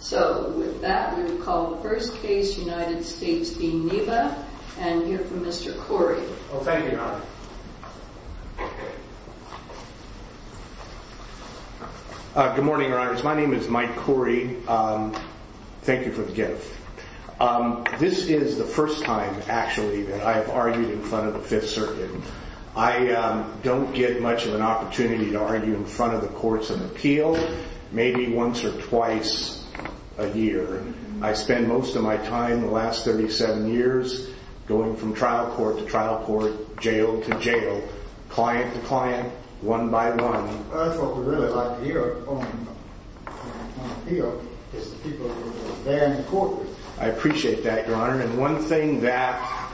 So with that we will call the first case, United States v. Neba, and hear from Mr. Corey. Thank you, Your Honor. Good morning, Your Honors. My name is Mike Corey. Thank you for the gift. This is the first time, actually, that I have argued in front of the Fifth Circuit. I don't get much of an opportunity to argue in front of the courts and appeal. Maybe once or twice a year. I spend most of my time the last 37 years going from trial court to trial court, jail to jail, client to client, one by one. That's what we really like to hear on appeal, is the people who are there in court. I appreciate that, Your Honor. And one thing that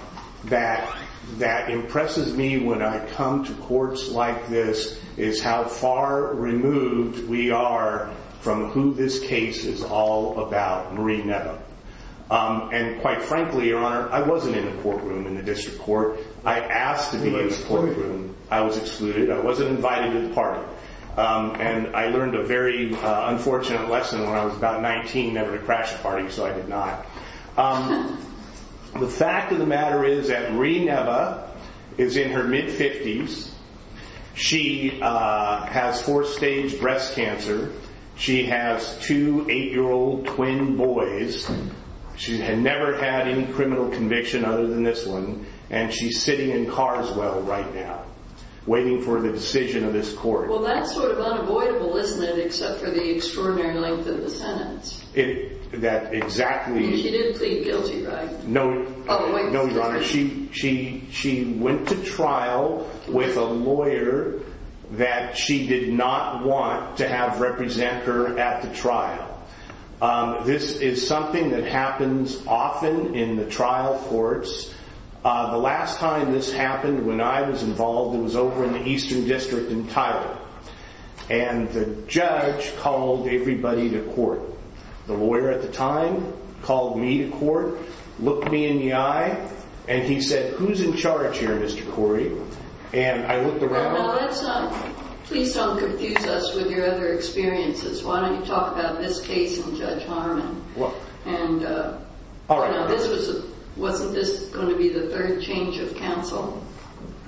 impresses me when I come to courts like this is how far removed we are from who this case is all about, Marie Neba. And quite frankly, Your Honor, I wasn't in the courtroom in the district court. I asked to be in the courtroom. I was excluded. I wasn't invited to the party. And I learned a very unfortunate lesson when I was about 19 never to crash a party, so I did not. The fact of the matter is that Marie Neba is in her mid-50s. She has fourth-stage breast cancer. She has two 8-year-old twin boys. She had never had any criminal conviction other than this one. And she's sitting in Carswell right now, waiting for the decision of this court. Well, that's sort of unavoidable, isn't it, except for the extraordinary length of the sentence. That exactly... And she did plead guilty, right? No, Your Honor. She went to trial with a lawyer that she did not want to have represent her at the trial. This is something that happens often in the trial courts. The last time this happened, when I was involved, it was over in the Eastern District in Thailand. And the judge called everybody to court. The lawyer at the time called me to court, looked me in the eye, and he said, Who's in charge here, Mr. Corey? And I looked around... Please don't confuse us with your other experiences. Why don't you talk about this case and Judge Harmon. Wasn't this going to be the third change of counsel?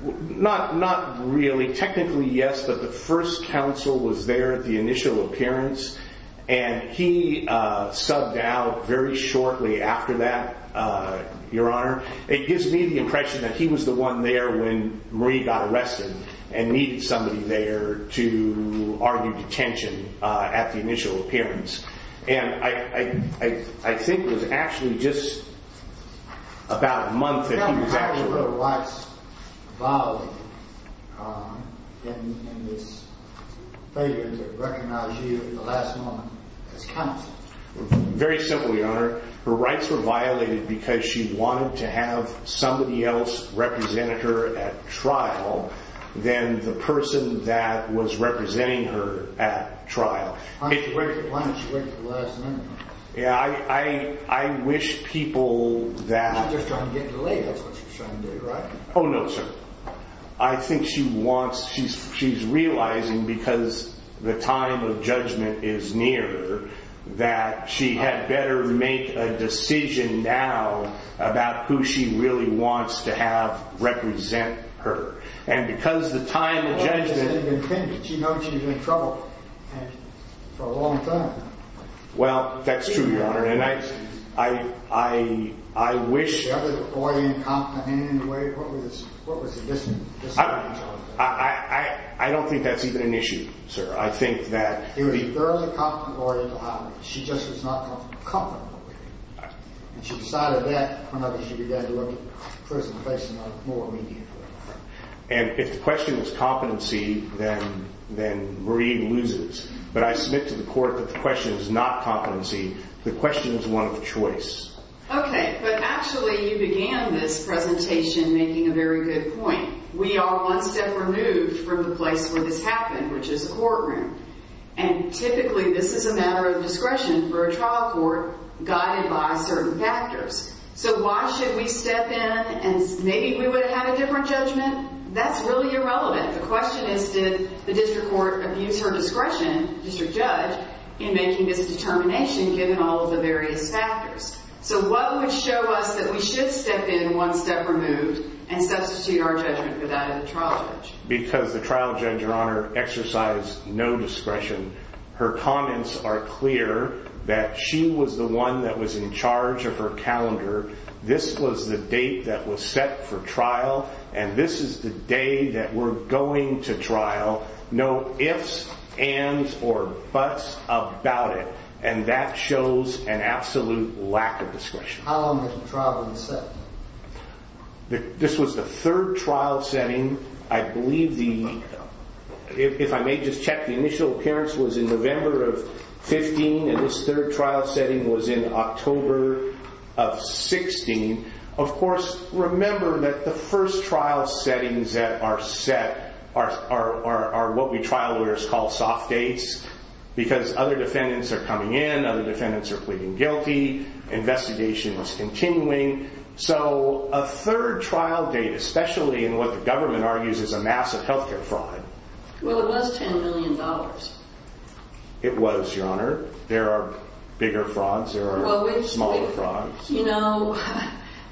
Not really. Technically, yes, but the first counsel was there at the initial appearance. And he subbed out very shortly after that, Your Honor. It gives me the impression that he was the one there when Marie got arrested and needed somebody there to argue detention at the initial appearance. And I think it was actually just about a month that he was actually there. How were her rights violated in this failure to recognize you at the last moment as counsel? Very simple, Your Honor. Her rights were violated because she wanted to have somebody else represent her at trial than the person that was representing her at trial. Why didn't she wait for the last minute? Yeah, I wish people that... She's not just trying to get delayed. That's what she's trying to do, right? Oh, no, sir. I think she wants, she's realizing because the time of judgment is near that she had better make a decision now about who she really wants to have represent her. And because the time of judgment... She knows she's in trouble for a long time. Well, that's true, Your Honor. And I wish... I don't think that's even an issue, sir. I think that... And if the question was competency, then Marie loses. But I submit to the court that the question is not competency. The question is one of choice. Okay, but actually you began this presentation making a very good point. We are one step removed from the place where this happened, which is the courtroom. And typically this is a matter of discretion for a trial court guided by certain factors. So why should we step in and maybe we would have had a different judgment? That's really irrelevant. The question is did the district court abuse her discretion, district judge, in making this determination given all of the various factors? So what would show us that we should step in one step removed and substitute our judgment for that of the trial judge? Because the trial judge, Your Honor, exercised no discretion. Her comments are clear that she was the one that was in charge of her calendar. This was the date that was set for trial, and this is the day that we're going to trial. No ifs, ands, or buts about it. And that shows an absolute lack of discretion. How long was the trial being set? This was the third trial setting. I believe the, if I may just check, the initial appearance was in November of 15, and this third trial setting was in October of 16. Of course, remember that the first trial settings that are set are what we trial lawyers call soft dates, because other defendants are coming in, other defendants are pleading guilty. Investigation was continuing. So a third trial date, especially in what the government argues is a massive healthcare fraud. Well, it was $10 million. It was, Your Honor. There are bigger frauds. There are smaller frauds. You know,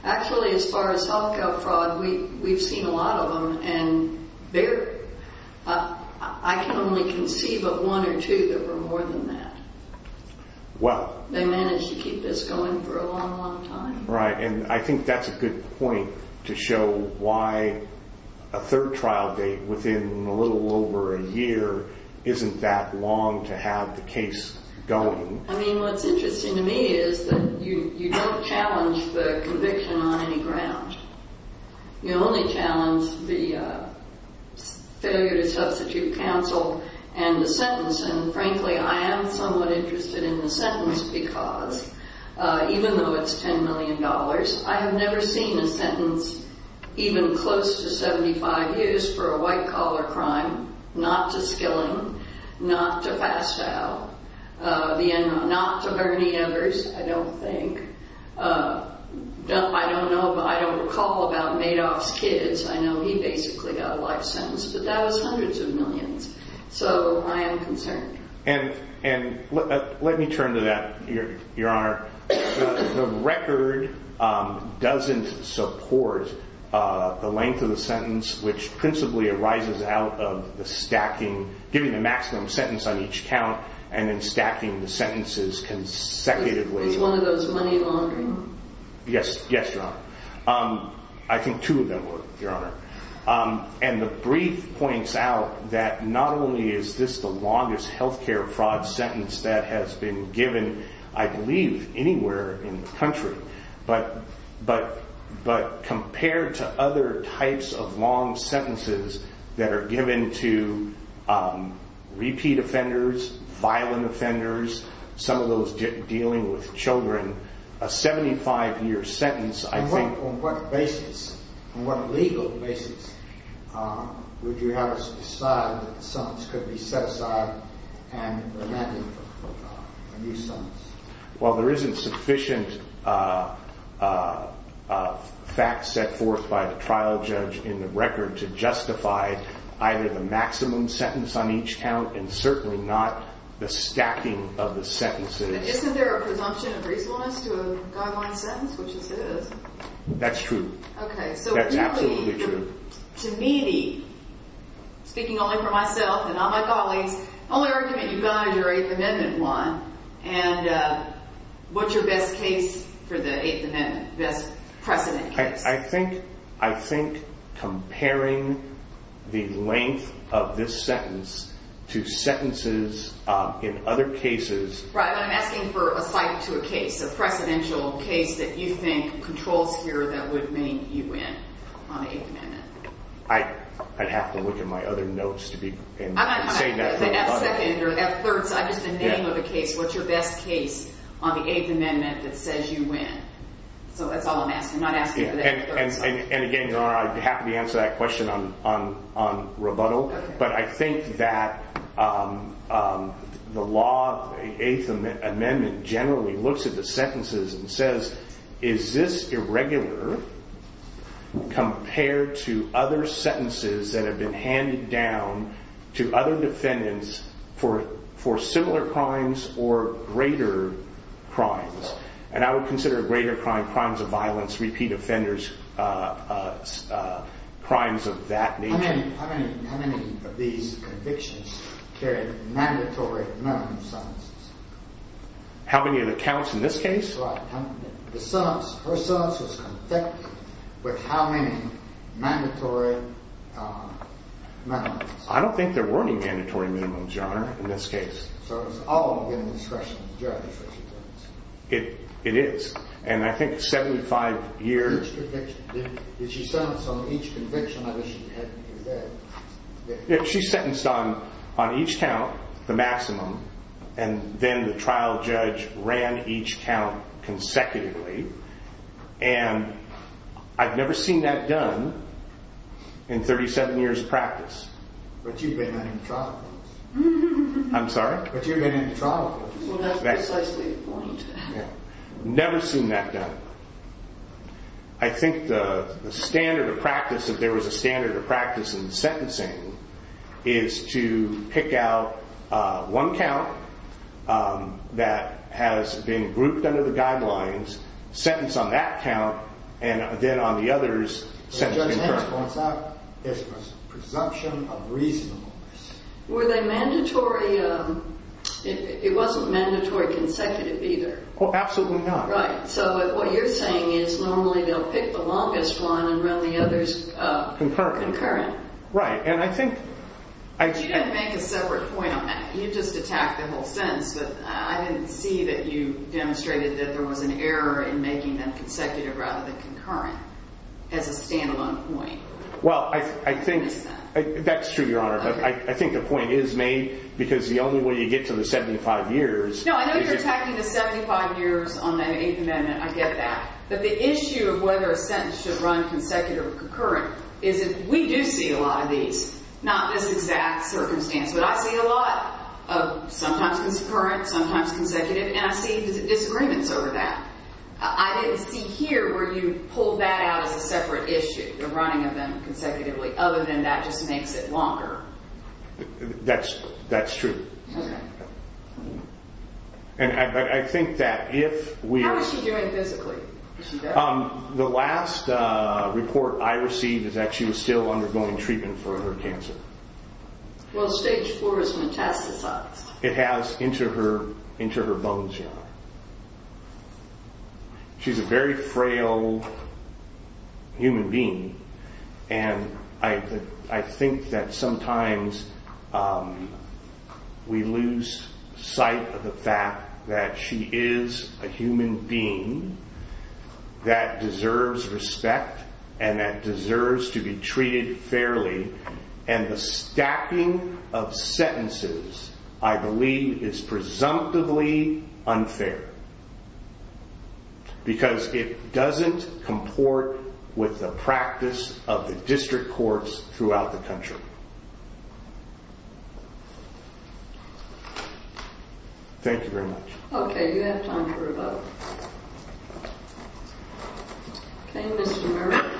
actually as far as healthcare fraud, we've seen a lot of them, and I can only conceive of one or two that were more than that. Well. They managed to keep this going for a long, long time. Right, and I think that's a good point to show why a third trial date within a little over a year isn't that long to have the case going. I mean, what's interesting to me is that you don't challenge the conviction on any ground. You only challenge the failure to substitute counsel and the sentence, and frankly, I am somewhat interested in the sentence because even though it's $10 million, I have never seen a sentence even close to 75 years for a white-collar crime, not to Skilling, not to Fastow, not to Bernie Embers, I don't think. I don't recall about Madoff's kids. I know he basically got a life sentence, but that was hundreds of millions, so I am concerned. And let me turn to that, Your Honor. The record doesn't support the length of the sentence, which principally arises out of the stacking, giving the maximum sentence on each count and then stacking the sentences consecutively. Is one of those money laundering? Yes, Your Honor. I think two of them were, Your Honor. And the brief points out that not only is this the longest health care fraud sentence that has been given, I believe, anywhere in the country, but compared to other types of long sentences that are given to repeat offenders, violent offenders, some of those dealing with children, a 75-year sentence, I think— Well, there isn't sufficient fact set forth by the trial judge in the record to justify either the maximum sentence on each count and certainly not the stacking of the sentences. Isn't there a presumption of reasonableness to a guideline sentence, which it says? That's true. Okay. That's absolutely true. To me, speaking only for myself and not my colleagues, I only recommend you guide your Eighth Amendment one. And what's your best case for the Eighth Amendment, best precedent case? I think comparing the length of this sentence to sentences in other cases— Right, but I'm asking for a cite to a case, a precedential case that you think controls here that would make you win on the Eighth Amendment. I'd have to look at my other notes to be— I'm not asking for the F-second or F-third, just the name of the case. What's your best case on the Eighth Amendment that says you win? So that's all I'm asking, I'm not asking for the F-third. And again, Your Honor, I'd be happy to answer that question on rebuttal, but I think that the law, the Eighth Amendment generally looks at the sentences and says, is this irregular compared to other sentences that have been handed down to other defendants for similar crimes or greater crimes? And I would consider a greater crime crimes of violence, repeat offenders, crimes of that nature. How many of these convictions carry mandatory non-summons? How many of the counts in this case? That's right. Her sentence was confected with how many mandatory minimums? I don't think there were any mandatory minimums, Your Honor, in this case. So it was all given discretion to the judge. It is. And I think 75 years— Did she sentence on each conviction, or did she have them in bed? She sentenced on each count, the maximum, and then the trial judge ran each count consecutively. And I've never seen that done in 37 years' practice. But you've been in the trial courts. I'm sorry? But you've been in the trial courts. Well, that's precisely the point. Never seen that done. I think the standard of practice, if there was a standard of practice in sentencing, is to pick out one count that has been grouped under the guidelines, sentence on that count, and then on the others, sentence concurrently. It's a presumption of reasonableness. Were they mandatory? It wasn't mandatory consecutive either. Absolutely not. Right. So what you're saying is normally they'll pick the longest one and run the others concurrent. Right. And I think— But you didn't make a separate point on that. You just attacked the whole sentence. I didn't see that you demonstrated that there was an error in making them consecutive rather than concurrent as a standalone point. Well, I think— You missed that. That's true, Your Honor. But I think the point is made because the only way you get to the 75 years— No, I know you're attacking the 75 years on the Eighth Amendment. I get that. But the issue of whether a sentence should run consecutive or concurrent is that we do see a lot of these. Not this exact circumstance, but I see a lot of sometimes concurrent, sometimes consecutive, and I see disagreements over that. I didn't see here where you pulled that out as a separate issue, the running of them consecutively, other than that just makes it longer. That's true. Okay. And I think that if we— How is she doing physically? Is she good? The last report I received is that she was still undergoing treatment for her cancer. Well, stage four is metastasized. It has into her bones, Your Honor. She's a very frail human being, and I think that sometimes we lose sight of the fact that she is a human being that deserves respect and that deserves to be treated fairly, and the stacking of sentences, I believe, is presumptively unfair because it doesn't comport with the practice of the district courts throughout the country. Thank you very much. Okay, you have time for a vote. Okay, Mr. Murphy.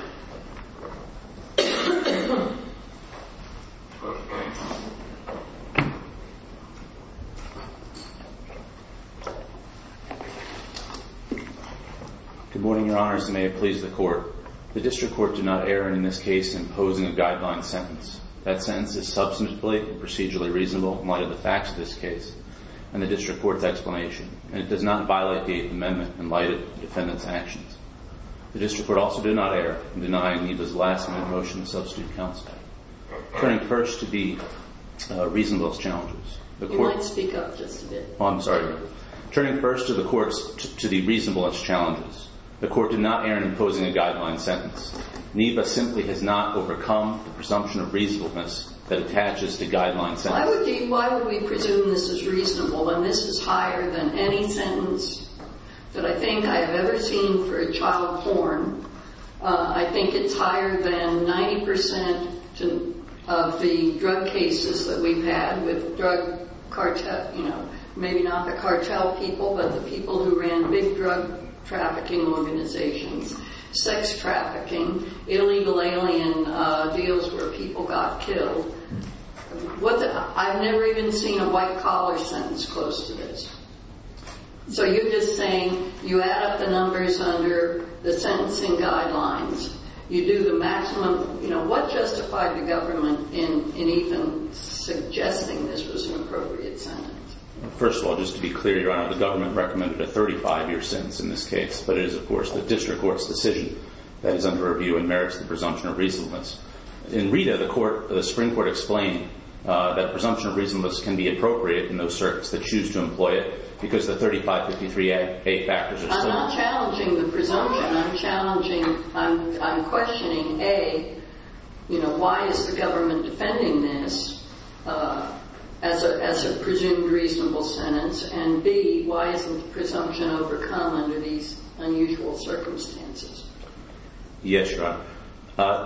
Good morning, Your Honors, and may it please the Court. The district court did not err in this case in posing a guideline sentence. That sentence is substantively and procedurally reasonable in light of the facts of this case and the district court's explanation, and it does not violate the amendment in light of the defendant's actions. The district court also did not err in denying Aneva's last-minute motion to substitute counsel. Turning first to the reasonablest challenges, the court— You might speak up just a bit. Oh, I'm sorry. Turning first to the reasonablest challenges, the court did not err in posing a guideline sentence. Neva simply has not overcome the presumption of reasonableness that attaches to guideline sentences. Why would we presume this is reasonable when this is higher than any sentence that I think I have ever seen for a child born? I think it's higher than 90% of the drug cases that we've had with drug cartels, maybe not the cartel people, but the people who ran big drug trafficking organizations, sex trafficking, illegal alien deals where people got killed. I've never even seen a white-collar sentence close to this. So you're just saying you add up the numbers under the sentencing guidelines. You do the maximum. What justified the government in even suggesting this was an appropriate sentence? First of all, just to be clear, Your Honor, the government recommended a 35-year sentence in this case, but it is, of course, the district court's decision that is under review and merits the presumption of reasonableness. In Rita, the Supreme Court explained that presumption of reasonableness can be appropriate in those certs that choose to employ it because the 3553A factors are still— I'm not challenging the presumption. I'm questioning, A, why is the government defending this as a presumed reasonable sentence, and, B, why isn't the presumption overcome under these unusual circumstances? Yes, Your Honor.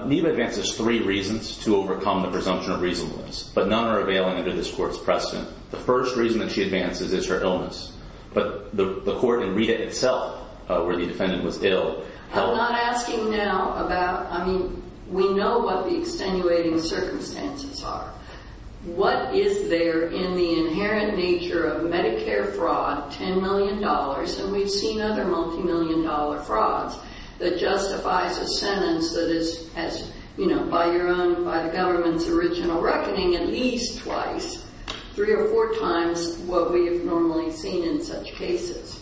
Neva advances three reasons to overcome the presumption of reasonableness, but none are available under this court's precedent. The first reason that she advances is her illness, but the court in Rita itself, where the defendant was ill— I'm not asking now about—I mean, we know what the extenuating circumstances are. What is there in the inherent nature of Medicare fraud, $10 million, and we've seen other multimillion-dollar frauds, that justifies a sentence that is, you know, by the government's original reckoning, at least twice, three or four times what we have normally seen in such cases.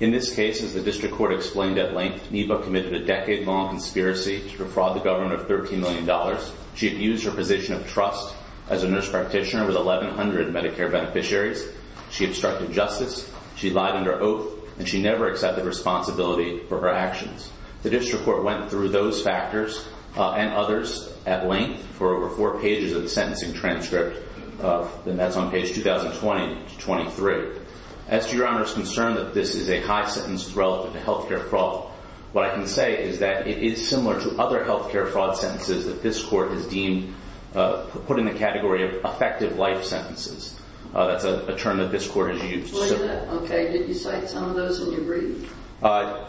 In this case, as the district court explained at length, Neva committed a decade-long conspiracy to defraud the government of $13 million. She abused her position of trust as a nurse practitioner with 1,100 Medicare beneficiaries. She obstructed justice. She lied under oath, and she never accepted responsibility for her actions. The district court went through those factors and others at length for over four pages of the sentencing transcript, and that's on page 2020-23. As to Your Honor's concern that this is a high sentence relative to health care fraud, what I can say is that it is similar to other health care fraud sentences that this court has deemed—put in the category of effective life sentences. That's a term that this court has used. Okay. Did you cite some of those in your brief?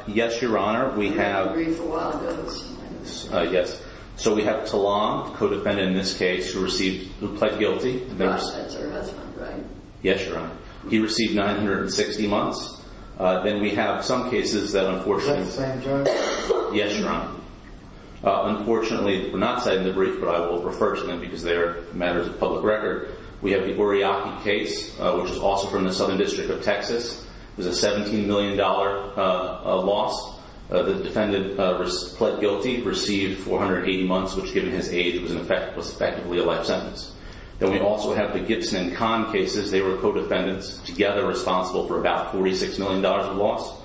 Yes, Your Honor. We have— I didn't read for a while. Yes. So we have Talon, the co-defendant in this case, who received—who pled guilty. Godhead's her husband, right? Yes, Your Honor. He received 960 months. Then we have some cases that unfortunately— Yes, I am, Your Honor. Yes, Your Honor. Unfortunately, we're not citing the brief, but I will refer to them because they are matters of public record. We have the Goriaki case, which is also from the Southern District of Texas. It was a $17 million loss. The defendant pled guilty, received 480 months, which, given his age, was effectively a life sentence. Then we also have the Gibson and Kahn cases. They were co-defendants, together responsible for about $46 million of loss.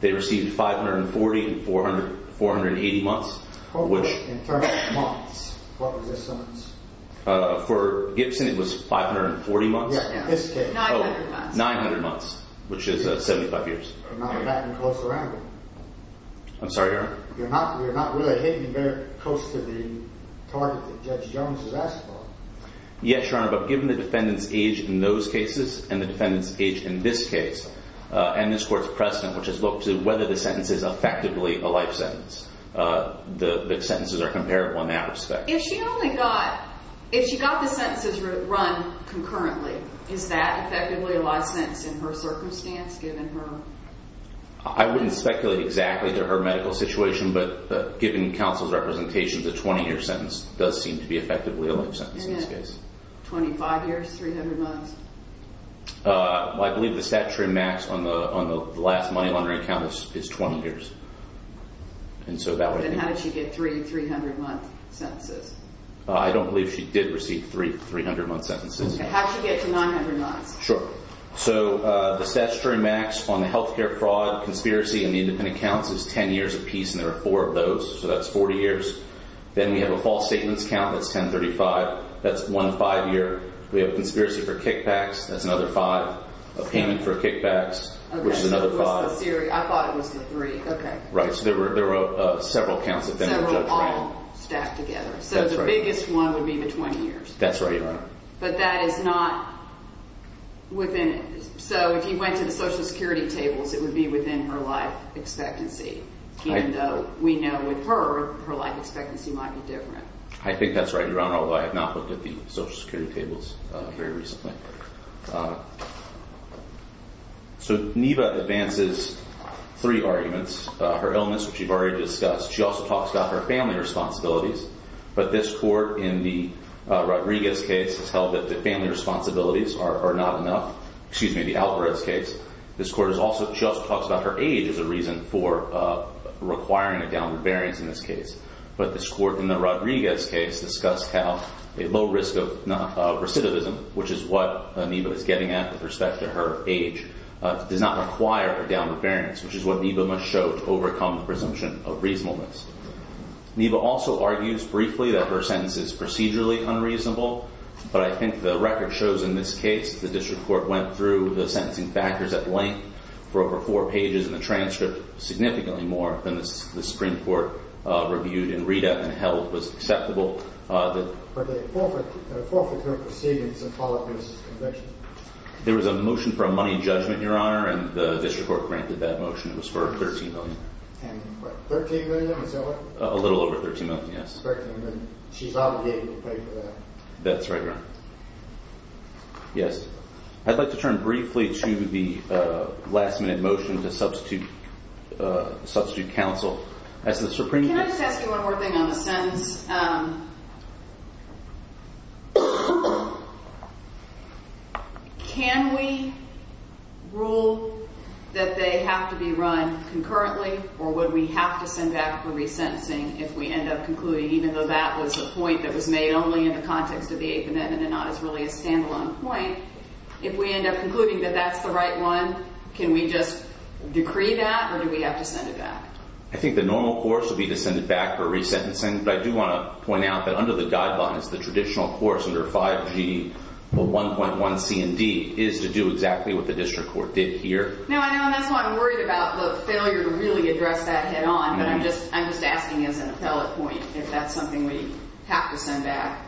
They received 540 and 480 months, which— In terms of months, what was this sentence? For Gibson, it was 540 months. Yes, in this case. 900 months. 900 months, which is 75 years. I'm sorry, Your Honor? You're not really hitting very close to the target that Judge Jones has asked for. Yes, Your Honor, but given the defendant's age in those cases and the defendant's age in this case and this court's precedent, which has looked to whether the sentence is effectively a life sentence, the sentences are comparable in that respect. If she only got—if she got the sentences run concurrently, is that effectively a life sentence in her circumstance, given her— I wouldn't speculate exactly to her medical situation, but given counsel's representation, the 20-year sentence does seem to be effectively a life sentence in this case. And then 25 years, 300 months? I believe the statutory max on the last money laundering account is 20 years. And so that would— Then how did she get three 300-month sentences? I don't believe she did receive three 300-month sentences. How did she get to 900 months? Sure. So the statutory max on the health care fraud, conspiracy, and the independent accounts is 10 years apiece, and there are four of those, so that's 40 years. Then we have a false statements count that's 1035. That's one five-year. We have a conspiracy for kickbacks. That's another five. A payment for kickbacks, which is another five. Okay, so it was the—I thought it was the three. Okay. Right, so there were several counts that the defendant judged wrong. That's right. So the biggest one would be the 20 years. That's right, Your Honor. But that is not within—so if you went to the Social Security tables, it would be within her life expectancy, even though we know with her, her life expectancy might be different. I think that's right, Your Honor, although I have not looked at the Social Security tables very recently. So Neva advances three arguments. Her illness, which you've already discussed. She also talks about her family responsibilities, but this court in the Rodriguez case has held that the family responsibilities are not enough— excuse me, the Alvarez case. This court has also—she also talks about her age as a reason for requiring a downward variance in this case, but this court in the Rodriguez case discussed how a low risk of recidivism, which is what Neva is getting at with respect to her age, does not require a downward variance, which is what Neva must show to overcome the presumption of reasonableness. Neva also argues briefly that her sentence is procedurally unreasonable, but I think the record shows in this case the district court went through the sentencing factors at length for over four pages and the transcript significantly more than the Supreme Court reviewed and read up and held was acceptable. There was a motion for a money judgment, Your Honor, and the district court granted that motion. It was for $13 million. A little over $13 million, yes. That's right, Your Honor. Yes. I'd like to turn briefly to the last-minute motion to substitute counsel as the Supreme Court— Can I just ask you one more thing on the sentence? Can we rule that they have to be run concurrently, or would we have to send back for resentencing if we end up concluding, even though that was the point that was made only in the context of the Eighth Amendment and not as really a stand-alone point, if we end up concluding that that's the right one, can we just decree that, or do we have to send it back? I think the normal course would be to send it back for resentencing, but I do want to point out that under the guidelines, the traditional course under 5G, 1.1C and D, is to do exactly what the district court did here. No, I know, and that's why I'm worried about the failure to really address that head-on, but I'm just asking as an appellate point if that's something we have to send back.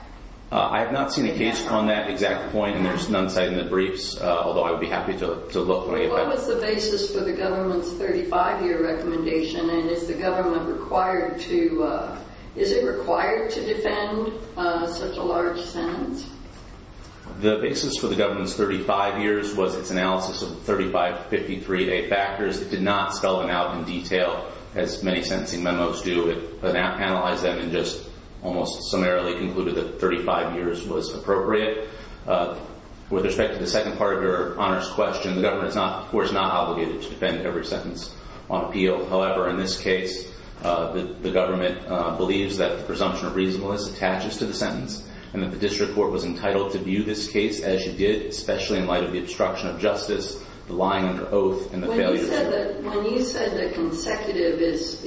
I have not seen a case on that exact point, and there's none cited in the briefs, although I would be happy to look. What was the basis for the government's 35-year recommendation, and is the government required to— is it required to defend such a large sentence? The basis for the government's 35 years was its analysis of 35 53-day factors. It did not spell them out in detail, as many sentencing memos do. It analyzed them and just almost summarily concluded that 35 years was appropriate. With respect to the second part of your honors question, the government, of course, is not obligated to defend every sentence on appeal. However, in this case, the government believes that the presumption of reasonableness attaches to the sentence, and that the district court was entitled to view this case as you did, especially in light of the obstruction of justice, the lying of the oath, and the failure to— When you said that consecutive is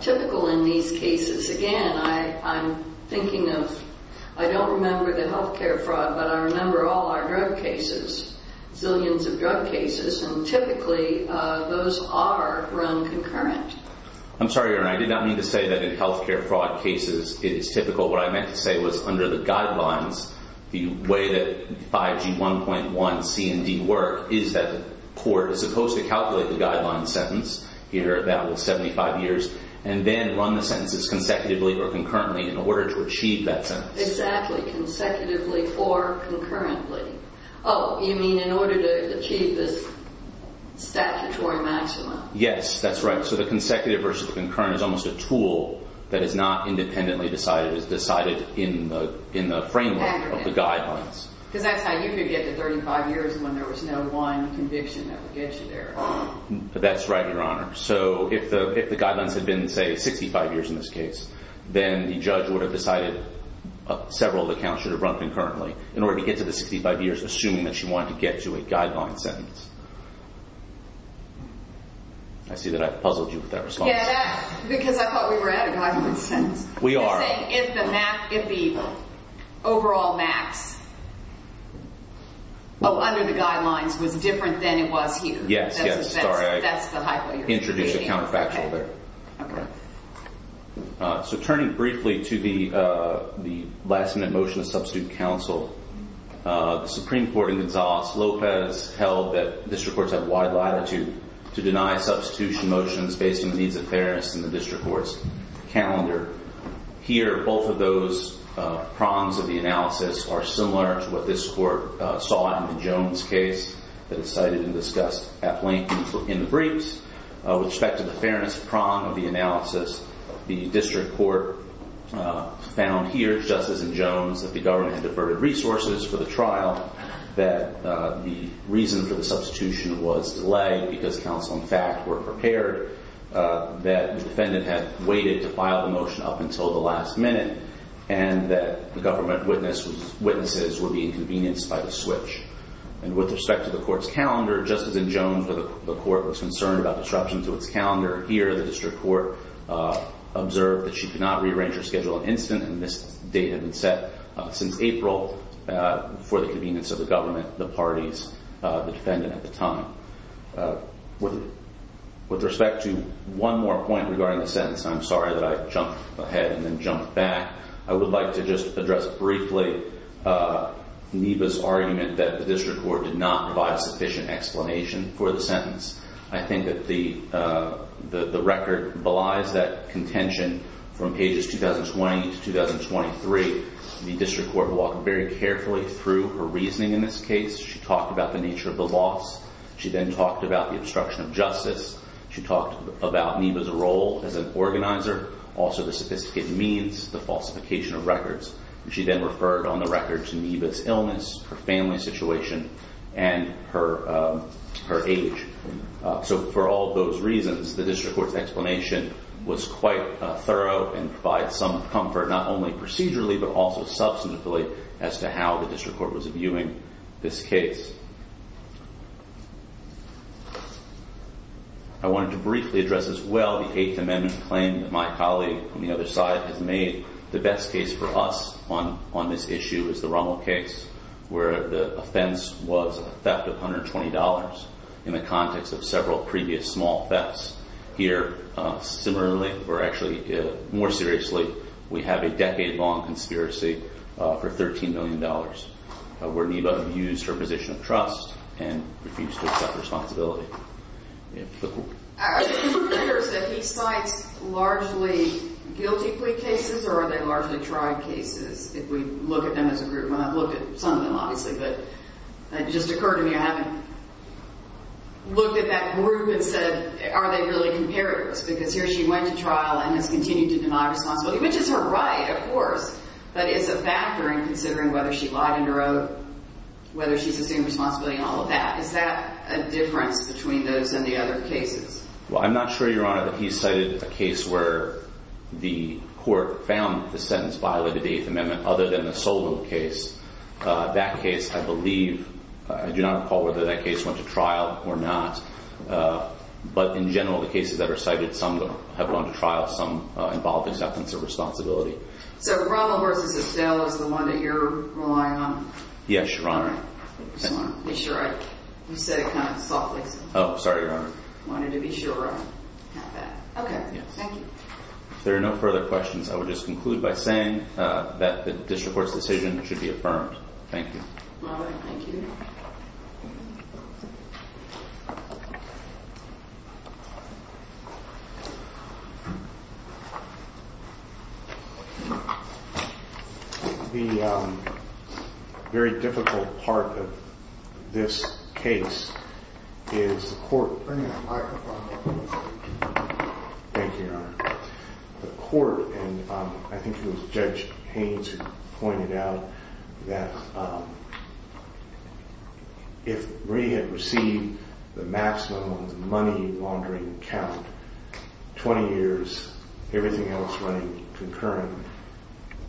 typical in these cases, again, I'm thinking of— I don't remember the health care fraud, but I remember all our drug cases, zillions of drug cases, and typically those are run concurrent. I'm sorry, Your Honor. I did not mean to say that in health care fraud cases it is typical. What I meant to say was under the guidelines, the way that 5G 1.1C and D work is that the court is supposed to calculate the guideline sentence. You heard that was 75 years, and then run the sentences consecutively or concurrently in order to achieve that sentence. Exactly, consecutively or concurrently. Oh, you mean in order to achieve this statutory maximum. Yes, that's right. So the consecutive versus the concurrent is almost a tool that is not independently decided. It is decided in the framework of the guidelines. Because that's how you could get to 35 years when there was no one conviction that would get you there. That's right, Your Honor. So if the guidelines had been, say, 65 years in this case, then the judge would have decided several of the counts should have run concurrently in order to get to the 65 years, assuming that she wanted to get to a guideline sentence. I see that I've puzzled you with that response. Yeah, because I thought we were at a guideline sentence. We are. You're saying if the overall max under the guidelines was different than it was here. Yes, yes. That's the hypo you're creating. I introduced a counterfactual there. So turning briefly to the last-minute motion to substitute counsel, the Supreme Court in Gonzales-Lopez held that district courts have wide latitude to deny substitution motions based on the needs of fairness in the district court's calendar. Here, both of those prongs of the analysis are similar to what this court saw in the Jones case that it cited and discussed at length in the briefs. With respect to the fairness prong of the analysis, the district court found here, just as in Jones, that the government had diverted resources for the trial, that the reason for the substitution was delayed because counsel, in fact, were prepared, that the defendant had waited to file the motion up until the last minute, and that the government witnesses were being convenienced by the switch. And with respect to the court's calendar, just as in Jones where the court was concerned about disruption to its calendar, here the district court observed that she could not rearrange her schedule in an instant, and this date had been set since April for the convenience of the government, the parties, the defendant at the time. With respect to one more point regarding the sentence, I'm sorry that I jumped ahead and then jumped back. I would like to just address briefly NEPA's argument that the district court did not provide sufficient explanation for the sentence. I think that the record belies that contention from pages 2020 to 2023. The district court walked very carefully through her reasoning in this case. She talked about the nature of the loss. She then talked about the obstruction of justice. She talked about NEPA's role as an organizer, also the sophisticated means, the falsification of records. She then referred on the record to NEPA's illness, her family situation, and her age. So for all those reasons, the district court's explanation was quite thorough and provides some comfort not only procedurally but also substantively as to how the district court was viewing this case. I wanted to briefly address as well the Eighth Amendment claim that my colleague on the other side has made. The best case for us on this issue is the Rummel case, where the offense was a theft of $120 in the context of several previous small thefts. Here, similarly, or actually more seriously, we have a decade-long conspiracy for $13 million, where NEPA abused her position of trust and refused to accept responsibility. Are you aware that he cites largely guilty plea cases or are they largely tried cases, if we look at them as a group? And I've looked at some of them, obviously, but it just occurred to me I haven't looked at that group and said, are they really comparatives? Because here she went to trial and has continued to deny responsibility, which is her right, of course, but it's a factor in considering whether she lied in her own, whether she sustained responsibility and all of that. Is that a difference between those and the other cases? Well, I'm not sure, Your Honor, that he cited a case where the court found the sentence violated the Eighth Amendment other than the Solow case. That case, I believe, I do not recall whether that case went to trial or not. But in general, the cases that are cited, some of them have gone to trial, some involve acceptance of responsibility. So Ronald versus Abdel is the one that you're relying on? Yes, Your Honor. I just wanted to be sure I said it kind of softly. Oh, sorry, Your Honor. I wanted to be sure I had that. Okay, thank you. If there are no further questions, I would just conclude by saying that the district court's decision should be affirmed. Thank you. All right, thank you. The very difficult part of this case is the court... Bring that microphone up. Thank you, Your Honor. The court, and I think it was Judge Haynes who pointed out that if Marie had received the maximum of the money laundering count, 20 years, everything else running concurrent,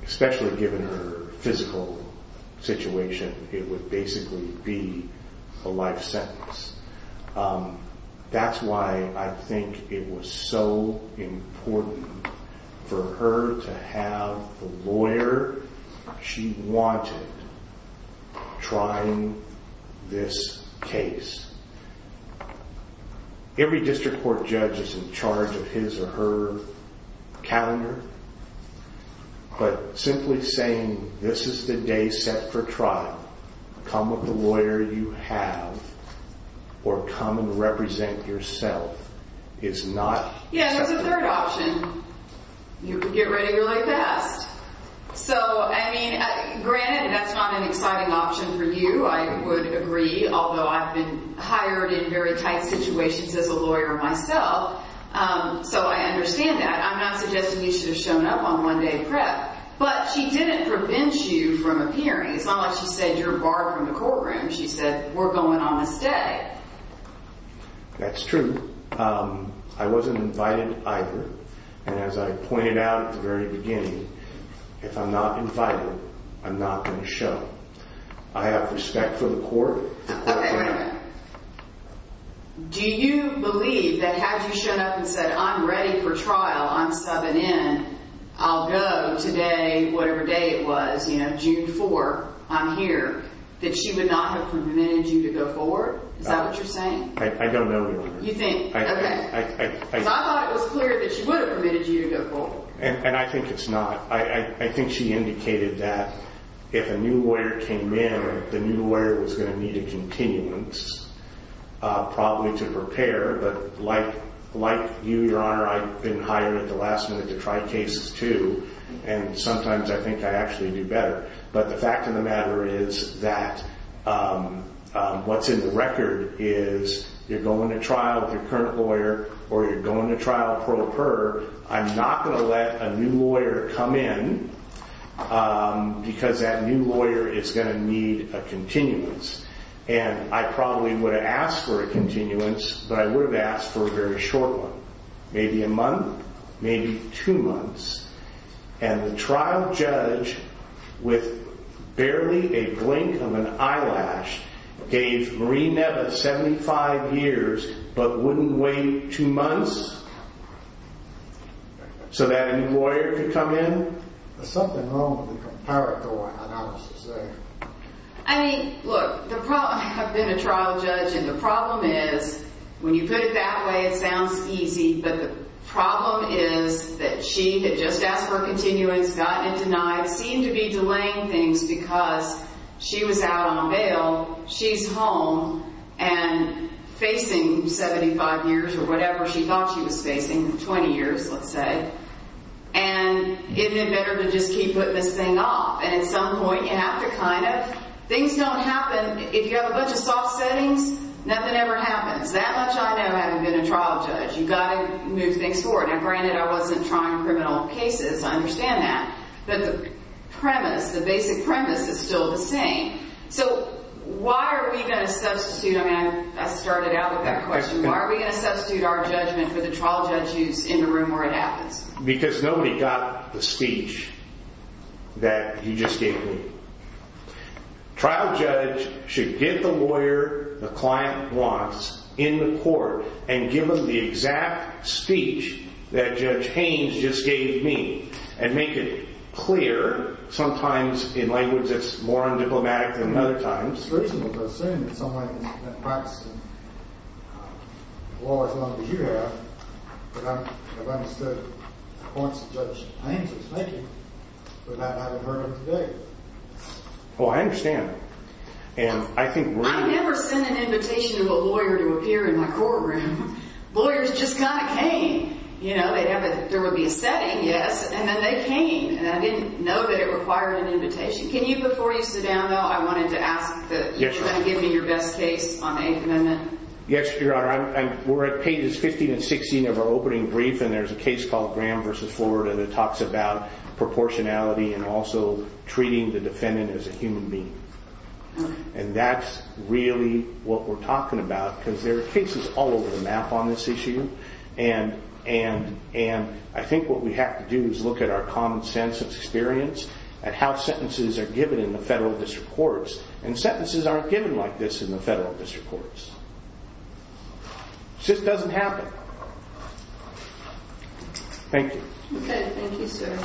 especially given her physical situation, it would basically be a life sentence. That's why I think it was so important for her to have the lawyer she wanted trying this case. Every district court judge is in charge of his or her calendar, but simply saying, this is the day set for trial, come with the lawyer you have, or come and represent yourself is not... Yeah, there's a third option. You can get ready your life vest. So, I mean, granted, that's not an exciting option for you, I would agree, although I've been hired in very tight situations as a lawyer myself, so I understand that. I'm not suggesting you should have shown up on one day prep, but she didn't prevent you from appearing. It's not like she said, you're barred from the courtroom. She said, we're going on this day. That's true. I wasn't invited either, and as I pointed out at the very beginning, if I'm not invited, I'm not going to show. I have respect for the court. Okay, wait a minute. Do you believe that had you shown up and said, I'm ready for trial, I'm subbing in, I'll go today, whatever day it was, you know, June 4, I'm here, that she would not have prevented you to go forward? Is that what you're saying? I don't know, Your Honor. You think, okay. I thought it was clear that she would have permitted you to go forward. And I think it's not. I think she indicated that if a new lawyer came in, the new lawyer was going to need a continuance probably to prepare, but like you, Your Honor, I've been hired at the last minute to try cases too, and sometimes I think I actually do better. But the fact of the matter is that what's in the record is you're going to trial with your current lawyer, or you're going to trial pro per. I'm not going to let a new lawyer come in because that new lawyer is going to need a continuance. And I probably would have asked for a continuance, but I would have asked for a very short one, maybe a month, maybe two months. And the trial judge, with barely a blink of an eyelash, gave Marie Neves 75 years but wouldn't wait two months so that a new lawyer could come in? There's something wrong with the comparative analysis there. I mean, look, I've been a trial judge, and the problem is, when you put it that way, it sounds easy, but the problem is that she had just asked for a continuance, gotten it denied, seemed to be delaying things because she was out on bail. She's home and facing 75 years or whatever she thought she was facing, 20 years, let's say. And isn't it better to just keep putting this thing off? And at some point, you have to kind of. Things don't happen. If you have a bunch of soft settings, nothing ever happens. That much I know having been a trial judge. You've got to move things forward. Now, granted, I wasn't trying criminal cases. I understand that. But the premise, the basic premise, is still the same. So why are we going to substitute? I mean, I started out with that question. Why are we going to substitute our judgment for the trial judge's in the room where it happens? Because nobody got the speech that you just gave me. Trial judge should get the lawyer the client wants in the court and give them the exact speech that Judge Haynes just gave me and make it clear. But sometimes in language that's more undiplomatic than other times. It's reasonable to assume in some way that practicing law as long as you have, that I've understood the points that Judge Haynes was making without having heard them today. Well, I understand. And I think we're. I never send an invitation to a lawyer to appear in my courtroom. Lawyers just kind of came. There would be a setting, yes. And then they came. And I didn't know that it required an invitation. Can you, before you sit down, though, I wanted to ask that you try to give me your best case on the eighth amendment. Yes, Your Honor. We're at pages 15 and 16 of our opening brief. And there's a case called Graham versus Florida that talks about proportionality and also treating the defendant as a human being. And that's really what we're talking about. Because there are cases all over the map on this issue. And I think what we have to do is look at our common sense of experience, at how sentences are given in the federal district courts. And sentences aren't given like this in the federal district courts. It just doesn't happen. Thank you. OK. Thank you, sir.